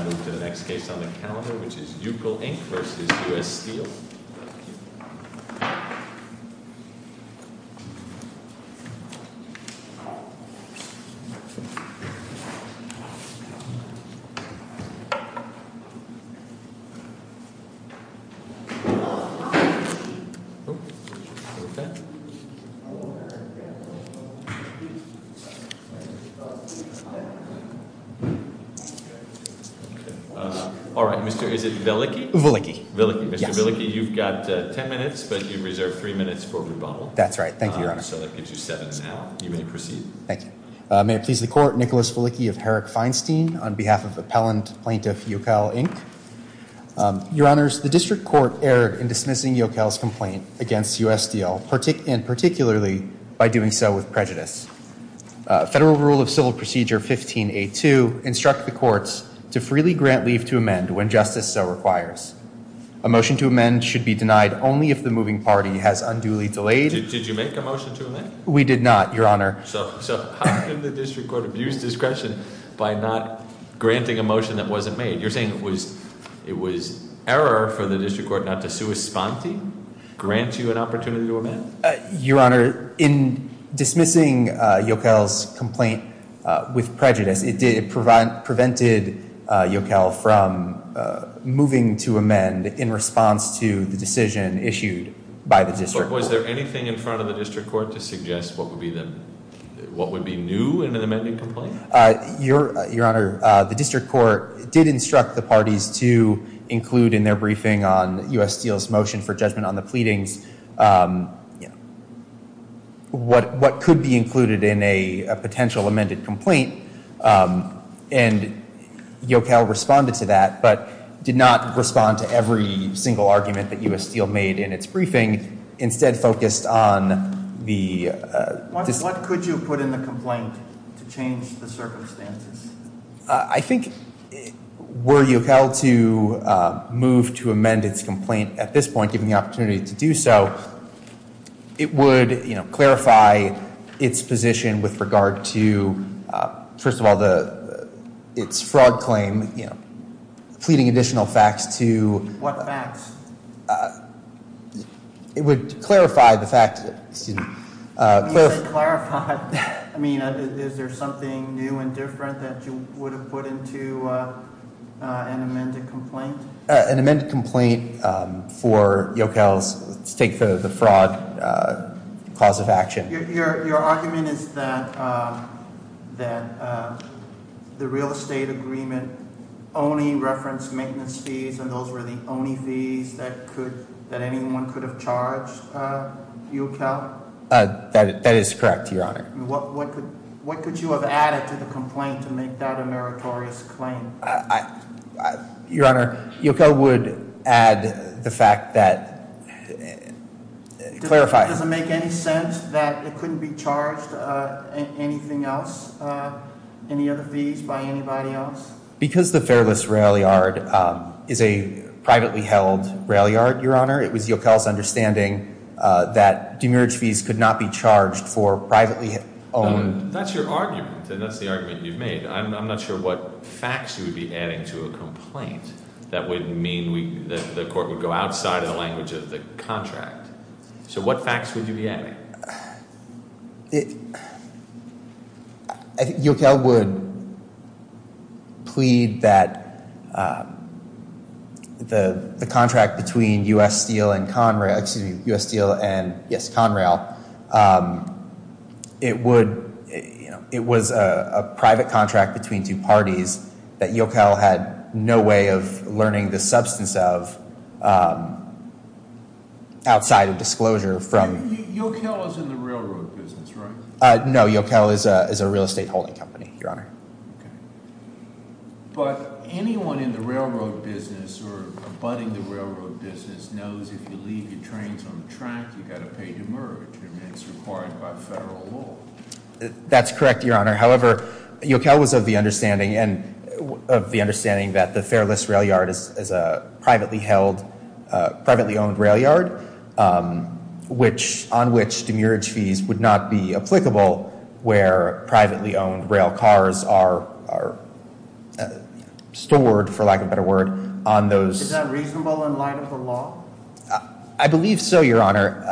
I move to the next case on the calendar, which is Ukkel, Inc. v. United States Steel Corporation Mr. Velicky, you've got ten minutes, but you've reserved three minutes for rebuttal. That's right. Thank you, Your Honor. So that gives you seven now. You may proceed. Thank you. May it please the Court, Nicholas Velicky of Herrick Feinstein on behalf of Appellant Plaintiff Ukkel, Inc. Your Honors, the District Court erred in dismissing Ukkel's complaint against U.S. Steel, and particularly by doing so with prejudice. Federal Rule of Civil Procedure 15A2 instructs the courts to freely grant leave to amend when justice so requires. A motion to amend should be denied only if the moving party has unduly delayed... Did you make a motion to amend? We did not, Your Honor. So how can the District Court abuse discretion by not granting a motion that wasn't made? You're saying it was error for the District Court not to sui sponte, grant you an opportunity to amend? Your Honor, in dismissing Ukkel's complaint with prejudice, it prevented Ukkel from moving to amend in response to the decision issued by the District Court. Was there anything in front of the District Court to suggest what would be new in an amending complaint? Your Honor, the District Court did instruct the parties to include in their briefing on U.S. Steel's motion for judgment on the pleadings what could be included in a potential amended complaint. And Ukkel responded to that, but did not respond to every single argument that U.S. Steel made in its briefing. Instead, focused on the... What could you put in the complaint to change the circumstances? I think were Ukkel to move to amend its complaint at this point, giving the opportunity to do so, it would clarify its position with regard to, first of all, its fraud claim, pleading additional facts to... What facts? It would clarify the fact... When you say clarify, I mean, is there something new and different that you would have put into an amended complaint? An amended complaint for Ukkel's, let's take the fraud cause of action. Your argument is that the real estate agreement only referenced maintenance fees and those were the only fees that anyone could have charged Ukkel? That is correct, Your Honor. What could you have added to the complaint to make that a meritorious claim? Your Honor, Ukkel would add the fact that... It couldn't be charged anything else, any other fees by anybody else? Because the Fairless Rail Yard is a privately held rail yard, Your Honor, it was Ukkel's understanding that demerit fees could not be charged for privately owned... That's your argument, and that's the argument you've made. I'm not sure what facts you would be adding to a complaint that would mean that the court would go outside of the language of the contract. So what facts would you be adding? Ukkel would plead that the contract between U.S. Steel and Conrail... ...had no way of learning the substance of outside of disclosure from... Ukkel is in the railroad business, right? No, Ukkel is a real estate holding company, Your Honor. But anyone in the railroad business or abutting the railroad business knows if you leave your trains on the track, you've got to pay demerit, and that's required by federal law. That's correct, Your Honor. However, Ukkel was of the understanding that the Fairless Rail Yard is a privately held, privately owned rail yard, on which demerit fees would not be applicable where privately owned rail cars are stored, for lack of a better word, on those... Is that reasonable in light of the law? I believe so, Your Honor.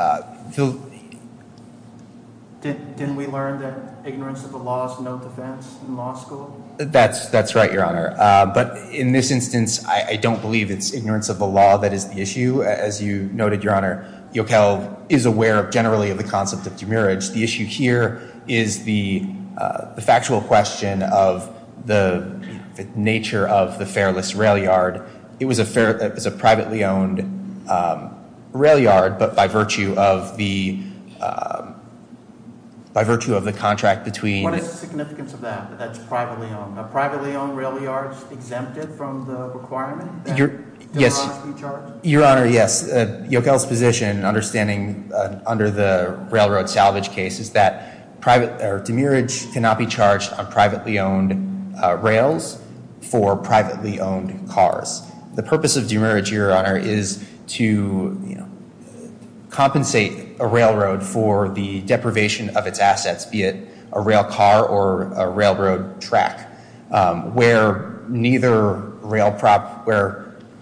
Didn't we learn that ignorance of the law is no defense in law school? That's right, Your Honor. But in this instance, I don't believe it's ignorance of the law that is the issue. As you noted, Your Honor, Ukkel is aware generally of the concept of demerit. The issue here is the factual question of the nature of the Fairless Rail Yard. It was a privately owned rail yard, but by virtue of the contract between... What is the significance of that, that it's privately owned? Are privately owned rail yards exempted from the requirement that demerits be charged? for privately owned cars. The purpose of demerit, Your Honor, is to compensate a railroad for the deprivation of its assets, be it a rail car or a railroad track. Where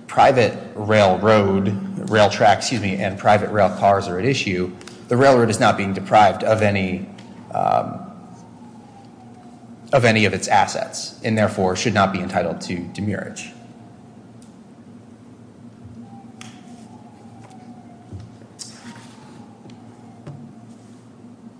private railroad, rail tracks and private rail cars are at issue, the railroad is not being deprived of any of its assets. And therefore, should not be entitled to demerit.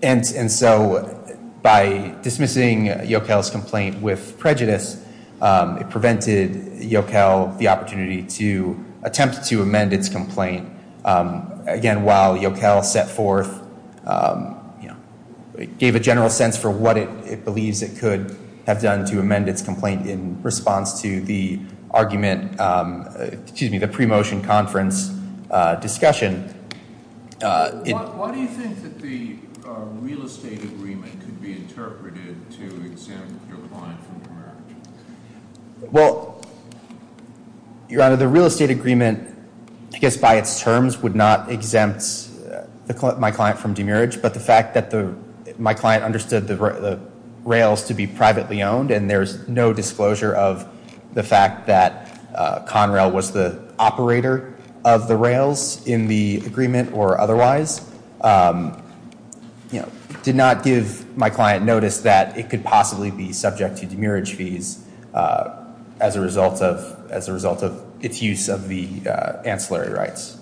And so by dismissing Ukkel's complaint with prejudice, it prevented Ukkel the opportunity to attempt to amend its complaint. Again, while Ukkel set forth, gave a general sense for what it believes it could have done to amend its complaint in response to the argument, excuse me, the pre-motion conference discussion. Why do you think that the real estate agreement could be interpreted to exempt your client from demerit? Well, Your Honor, the real estate agreement, I guess by its terms, would not exempt my client from demerit, but the fact that my client understood the rails to be privately owned, and there's no disclosure of the fact that Conrail was the operator of the rails in the agreement or otherwise, did not give my client notice that it could possibly be subject to demerit fees as a result of its use of the ancillary rights.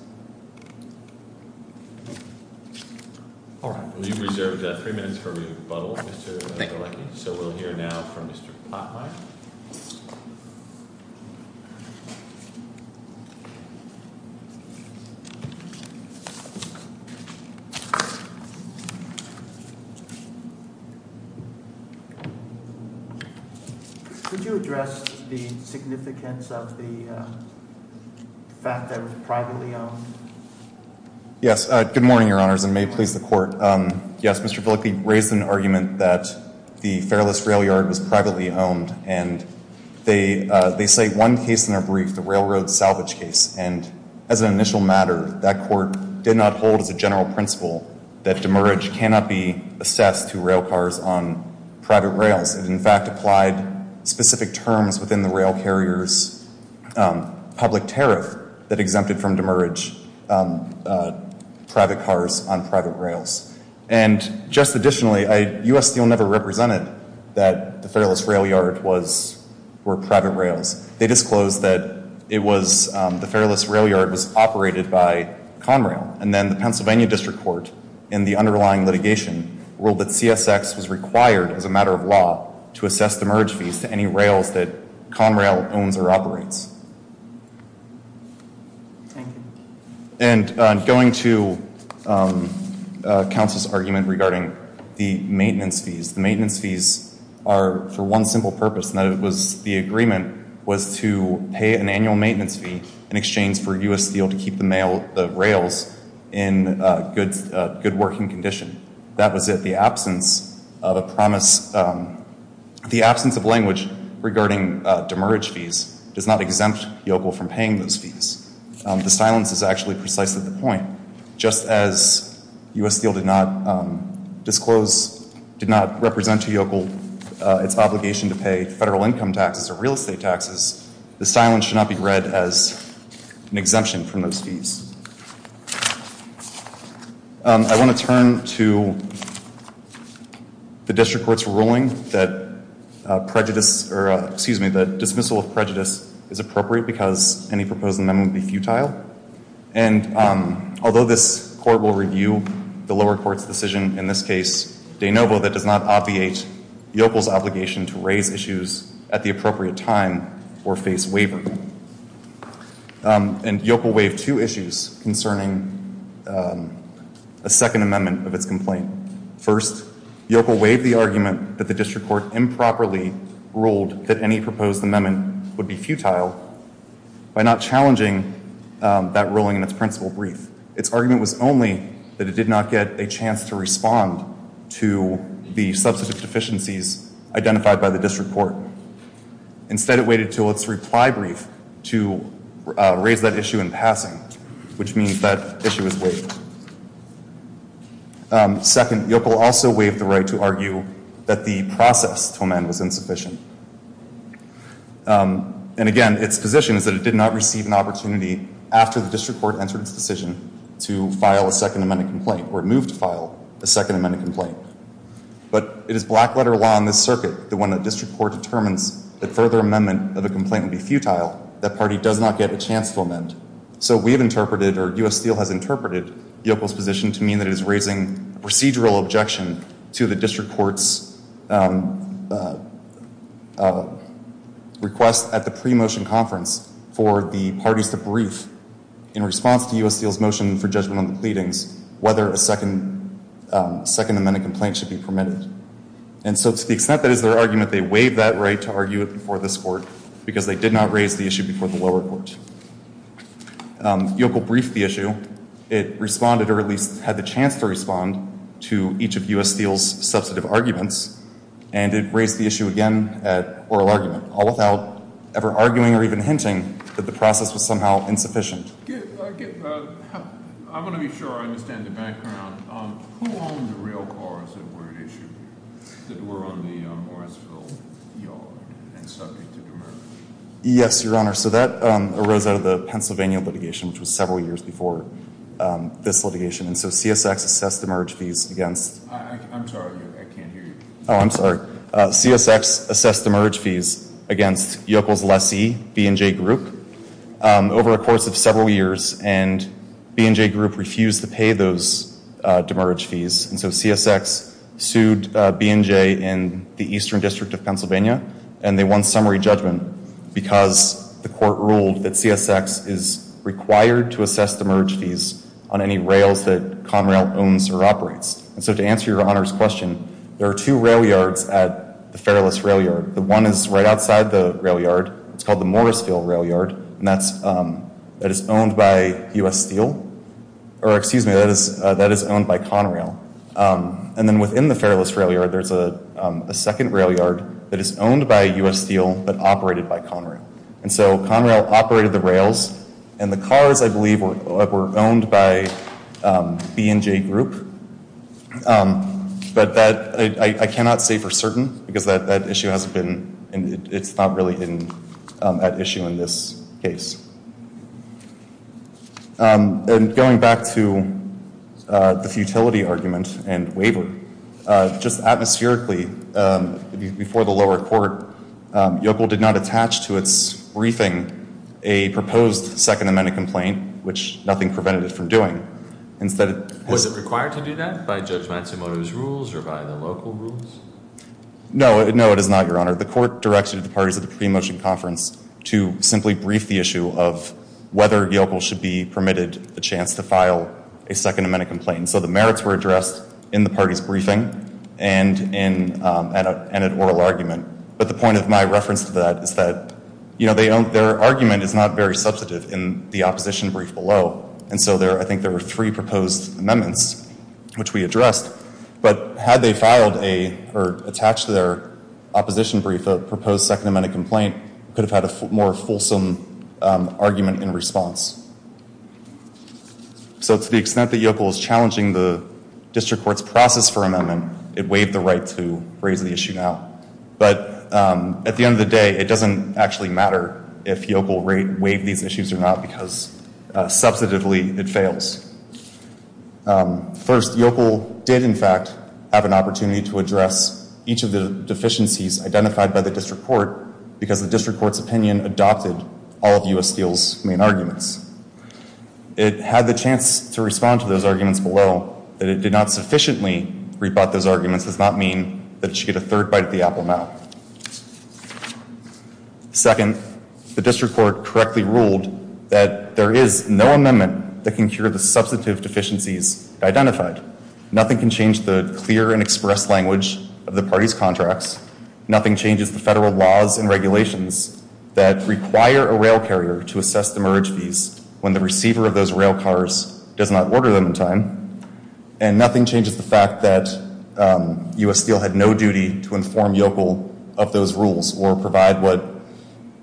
All right. We've reserved three minutes for rebuttal. Thank you. So we'll hear now from Mr. Plotline. Thank you. Could you address the significance of the fact that it was privately owned? Yes. Good morning, Your Honors, and may it please the Court. Yes, Mr. Bielke raised an argument that the Fairless Rail Yard was privately owned, and they say one case in their brief, the railroad salvage case, and as an initial matter, that court did not hold as a general principle that demerit cannot be assessed to rail cars on private rails. It in fact applied specific terms within the rail carrier's public tariff that exempted from demerit private cars on private rails. And just additionally, U.S. Steel never represented that the Fairless Rail Yard were private rails. They disclosed that the Fairless Rail Yard was operated by Conrail, and then the Pennsylvania District Court, in the underlying litigation, ruled that CSX was required as a matter of law to assess demerit fees to any rails that Conrail owns or operates. Thank you. And going to counsel's argument regarding the maintenance fees, the maintenance fees are for one simple purpose, and that was the agreement was to pay an annual maintenance fee in exchange for U.S. Steel to keep the rails in good working condition. That was it. The absence of a promise, the absence of language regarding demerit fees does not exempt YOCL from paying those fees. The silence is actually precisely the point. Just as U.S. Steel did not disclose, did not represent to YOCL its obligation to pay federal income taxes or real estate taxes, the silence should not be read as an exemption from those fees. I want to turn to the district court's ruling that prejudice, or excuse me, that dismissal of prejudice is appropriate because any proposed amendment would be futile. And although this court will review the lower court's decision in this case, de novo, that does not obviate YOCL's obligation to raise issues at the appropriate time or face waiver. And YOCL waived two issues concerning a second amendment of its complaint. First, YOCL waived the argument that the district court improperly ruled that any proposed amendment would be futile by not challenging that ruling in its principal brief. Its argument was only that it did not get a chance to respond to the substantive deficiencies identified by the district court. Instead, it waited until its reply brief to raise that issue in passing, which means that issue is waived. Second, YOCL also waived the right to argue that the process to amend was insufficient. And again, its position is that it did not receive an opportunity after the district court entered its decision to file a second amendment complaint or move to file a second amendment complaint. But it is black letter law in this circuit that when a district court determines that further amendment of a complaint would be futile, that party does not get a chance to amend. So we have interpreted, or U.S. Steel has interpreted, YOCL's position to mean that it is raising procedural objection to the district court's request at the pre-motion conference for the parties to brief in response to U.S. Steel's motion for judgment on the pleadings whether a second amendment complaint should be permitted. And so to the extent that is their argument, they waived that right to argue it before this court because they did not raise the issue before the lower court. YOCL briefed the issue. It responded, or at least had the chance to respond, to each of U.S. Steel's substantive arguments. And it raised the issue again at oral argument, all without ever arguing or even hinting that the process was somehow insufficient. I want to be sure I understand the background. Who owned the railcars that were on the Morrisville yard and subject to the merge? Yes, your honor. So that arose out of the Pennsylvania litigation, which was several years before this litigation. And so CSX assessed the merge fees against... I'm sorry, I can't hear you. Oh, I'm sorry. CSX assessed the merge fees against YOCL's lessee, B&J Group, over a course of several years. And B&J Group refused to pay those demerge fees. And so CSX sued B&J and the Eastern District of Pennsylvania. And they won summary judgment because the court ruled that CSX is required to assess the merge fees on any rails that Conrail owns or operates. And so to answer your honor's question, there are two rail yards at the Fairless Rail Yard. The one is right outside the rail yard. It's called the Morrisville Rail Yard. And that is owned by U.S. Steel. Or excuse me, that is owned by Conrail. And then within the Fairless Rail Yard, there's a second rail yard that is owned by U.S. Steel but operated by Conrail. And so Conrail operated the rails. And the cars, I believe, were owned by B&J Group. But I cannot say for certain because that issue hasn't been...it's not really at issue in this case. And going back to the futility argument and waiver, just atmospherically before the lower court, Yokel did not attach to its briefing a proposed Second Amendment complaint, which nothing prevented it from doing. Was it required to do that by Judge Matsumoto's rules or by the local rules? No, it is not, your honor. The court directed the parties at the pre-motion conference to simply brief the issue of whether Yokel should be permitted the chance to file a Second Amendment complaint. And so the merits were addressed in the party's briefing and in an oral argument. But the point of my reference to that is that their argument is not very substantive in the opposition brief below. And so I think there were three proposed amendments, which we addressed. But had they filed or attached to their opposition brief a proposed Second Amendment complaint, we could have had a more fulsome argument in response. So to the extent that Yokel is challenging the district court's process for amendment, it waived the right to raise the issue now. But at the end of the day, it doesn't actually matter if Yokel waived these issues or not because substantively it fails. First, Yokel did in fact have an opportunity to address each of the deficiencies identified by the district court because the district court's opinion adopted all of U.S. Steel's main arguments. It had the chance to respond to those arguments below. That it did not sufficiently rebut those arguments does not mean that it should get a third bite of the apple now. Second, the district court correctly ruled that there is no amendment that can cure the substantive deficiencies identified. Nothing can change the clear and express language of the party's contracts. Nothing changes the federal laws and regulations that require a rail carrier to assess the merge fees when the receiver of those rail cars does not order them in time. And nothing changes the fact that U.S. Steel had no duty to inform Yokel of those rules or provide what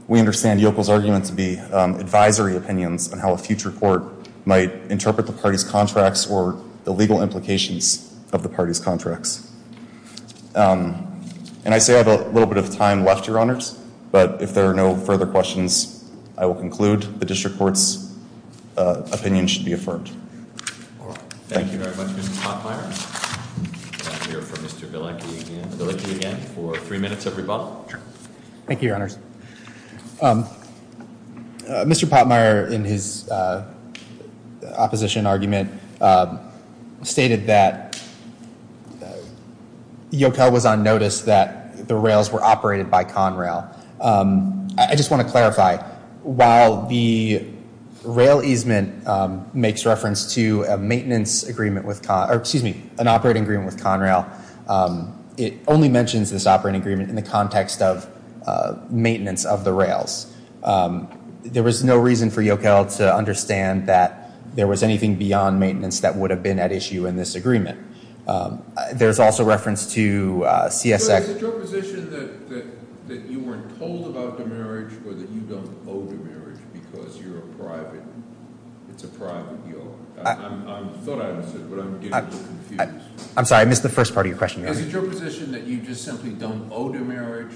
we understand Yokel's argument to be advisory opinions on how a future court might interpret the party's contracts or the legal implications of the party's contracts. And I say I have a little bit of time left, Your Honors, but if there are no further questions, I will conclude the district court's opinion should be affirmed. Thank you very much, Mr. Potmeyer. We'll hear from Mr. Bielicki again for three minutes of rebuttal. Thank you, Your Honors. Mr. Potmeyer, in his opposition argument, stated that Yokel was on notice that the rails were operated by Conrail. I just want to clarify. While the rail easement makes reference to a maintenance agreement with Conrail, or excuse me, an operating agreement with Conrail, it only mentions this operating agreement in the context of maintenance of the rails. There was no reason for Yokel to understand that there was anything beyond maintenance that would have been at issue in this agreement. There's also reference to CSX. Is it your position that you weren't told about the marriage or that you don't owe the marriage because it's a private yard? I thought I understood, but I'm getting a little confused. I'm sorry, I missed the first part of your question. Is it your position that you just simply don't owe the marriage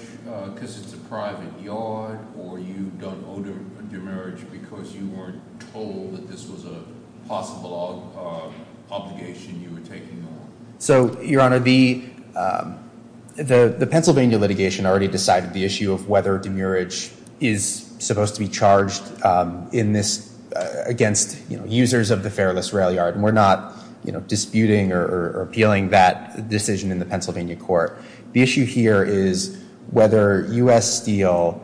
because it's a private yard, or you don't owe the marriage because you weren't told that this was a possible obligation you were taking on? Your Honor, the Pennsylvania litigation already decided the issue of whether demurrage is supposed to be charged against users of the fareless rail yard. We're not disputing or appealing that decision in the Pennsylvania court. The issue here is whether U.S. Steel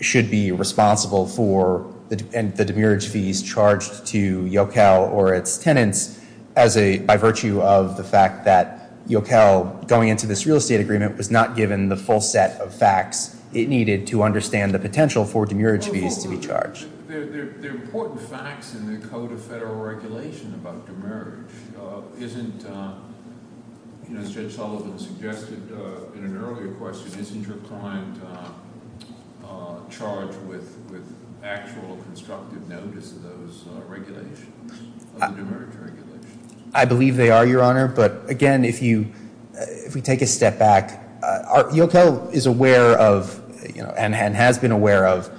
should be responsible for the demurrage fees charged to Yokel or its tenants by virtue of the fact that Yokel, going into this real estate agreement, was not given the full set of facts it needed to understand the potential for demurrage fees to be charged. There are important facts in the Code of Federal Regulation about demurrage. Isn't, as Judge Sullivan suggested in an earlier question, isn't your client charged with actual constructive notice of those regulations, of the demurrage regulations? Your Honor, but again, if we take a step back, Yokel is aware of and has been aware of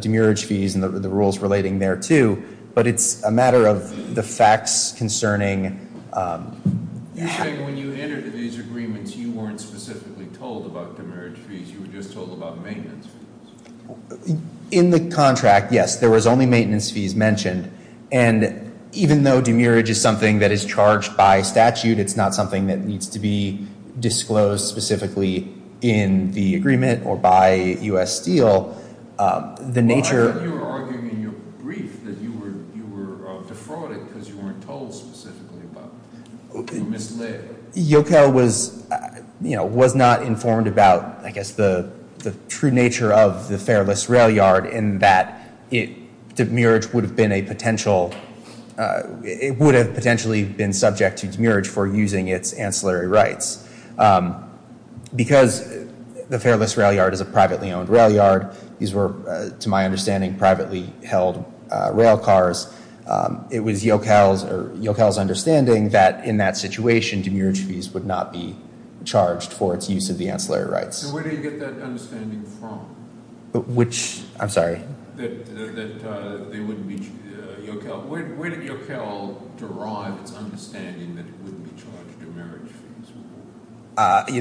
demurrage fees and the rules relating there too, but it's a matter of the facts concerning... You're saying when you entered these agreements, you weren't specifically told about demurrage fees. You were just told about maintenance fees. In the contract, yes, there was only maintenance fees mentioned. And even though demurrage is something that is charged by statute, it's not something that needs to be disclosed specifically in the agreement or by U.S. Steel, the nature... Well, I thought you were arguing in your brief that you were defrauded because you weren't told specifically about it. You were misled. Yokel was not informed about, I guess, the true nature of the Fairless Rail Yard in that demurrage would have been a potential... It would have potentially been subject to demurrage for using its ancillary rights because the Fairless Rail Yard is a privately owned rail yard. These were, to my understanding, privately held rail cars. It was Yokel's understanding that in that situation, demurrage fees would not be charged for its use of the ancillary rights. So where do you get that understanding from? Which... I'm sorry. That they wouldn't be... Yokel... Where did Yokel derive its understanding that it wouldn't be charged demurrage fees?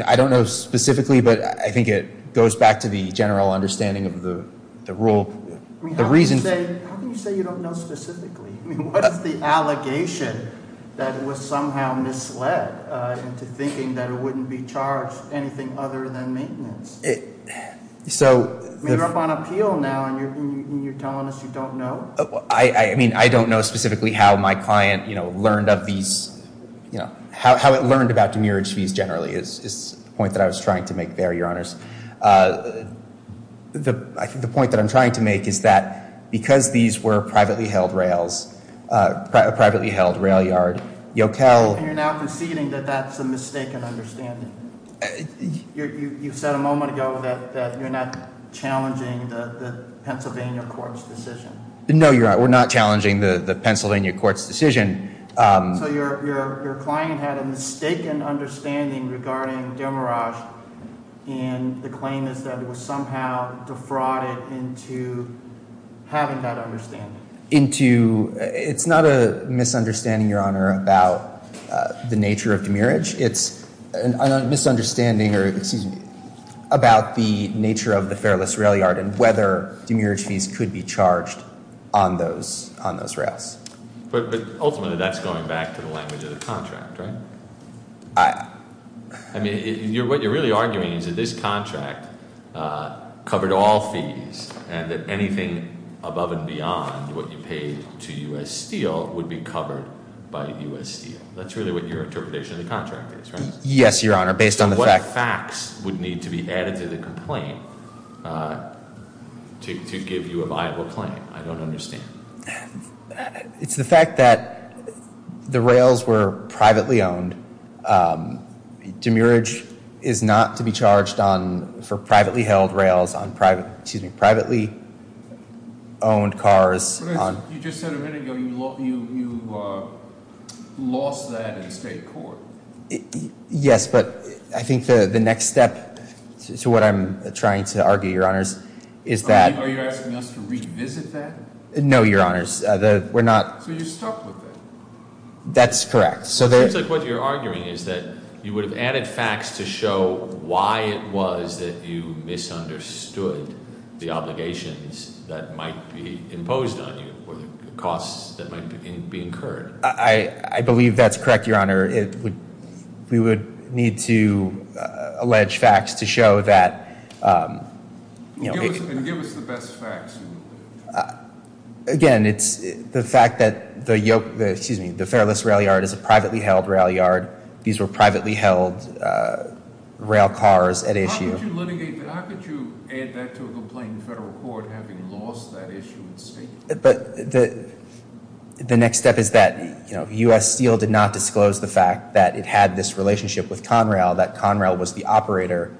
I don't know specifically, but I think it goes back to the general understanding of the rule. I mean, how can you say you don't know specifically? I mean, what is the allegation that it was somehow misled into thinking that it wouldn't be charged anything other than maintenance? So... I mean, you're up on appeal now, and you're telling us you don't know? I mean, I don't know specifically how my client learned of these... How it learned about demurrage fees generally is the point that I was trying to make there, Your Honors. I think the point that I'm trying to make is that because these were privately held rails, privately held rail yard, Yokel... And you're now conceding that that's a mistaken understanding. You said a moment ago that you're not challenging the Pennsylvania court's decision. No, we're not challenging the Pennsylvania court's decision. So your client had a mistaken understanding regarding demurrage, and the claim is that it was somehow defrauded into having that understanding. It's not a misunderstanding, Your Honor, about the nature of demurrage. It's a misunderstanding about the nature of the fareless rail yard and whether demurrage fees could be charged on those rails. But ultimately, that's going back to the language of the contract, right? I... I mean, what you're really arguing is that this contract covered all fees, and that anything above and beyond what you paid to U.S. Steel would be covered by U.S. Steel. That's really what your interpretation of the contract is, right? Yes, Your Honor, based on the fact... What facts would need to be added to the complaint to give you a viable claim? I don't understand. It's the fact that the rails were privately owned. Demurrage is not to be charged for privately held rails on privately owned cars. You just said a minute ago you lost that in the state court. Yes, but I think the next step to what I'm trying to argue, Your Honors, is that... Are you asking us to revisit that? No, Your Honors. We're not... So you stuck with it? That's correct. It seems like what you're arguing is that you would have added facts to show why it was that you misunderstood the obligations that might be imposed on you or the costs that might be incurred. I believe that's correct, Your Honor. We would need to allege facts to show that... And give us the best facts. Again, it's the fact that the Fairless Rail Yard is a privately held rail yard. These were privately held rail cars at issue. How could you litigate that? How could you add that to a complaint in federal court having lost that issue in state court? But the next step is that U.S. Steel did not disclose the fact that it had this relationship with Conrail, that Conrail was the operator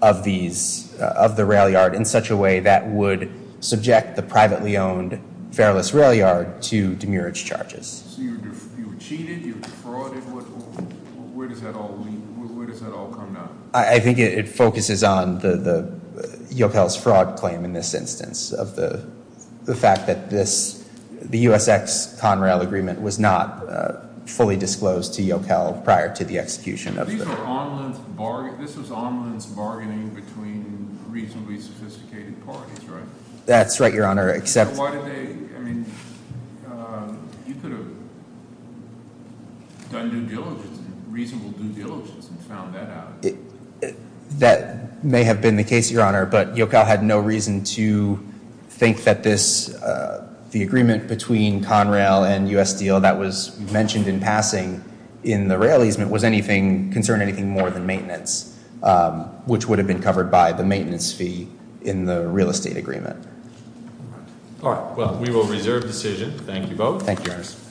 of the rail yard in such a way that would subject the privately owned Fairless Rail Yard to demurrage charges. So you cheated? You defrauded? Where does that all come down? I think it focuses on Yokel's fraud claim in this instance of the fact that the U.S.X. Conrail agreement was not fully disclosed to Yokel prior to the execution of the... These were on-lance bargaining between reasonably sophisticated parties, right? That's right, Your Honor, except... You could have done reasonable due diligence and found that out. That may have been the case, Your Honor, but Yokel had no reason to think that the agreement between Conrail and U.S. Steel that was mentioned in passing in the rail easement concerned anything more than maintenance, which would have been covered by the maintenance fee in the real estate agreement. All right, well, we will reserve the decision. Thank you both.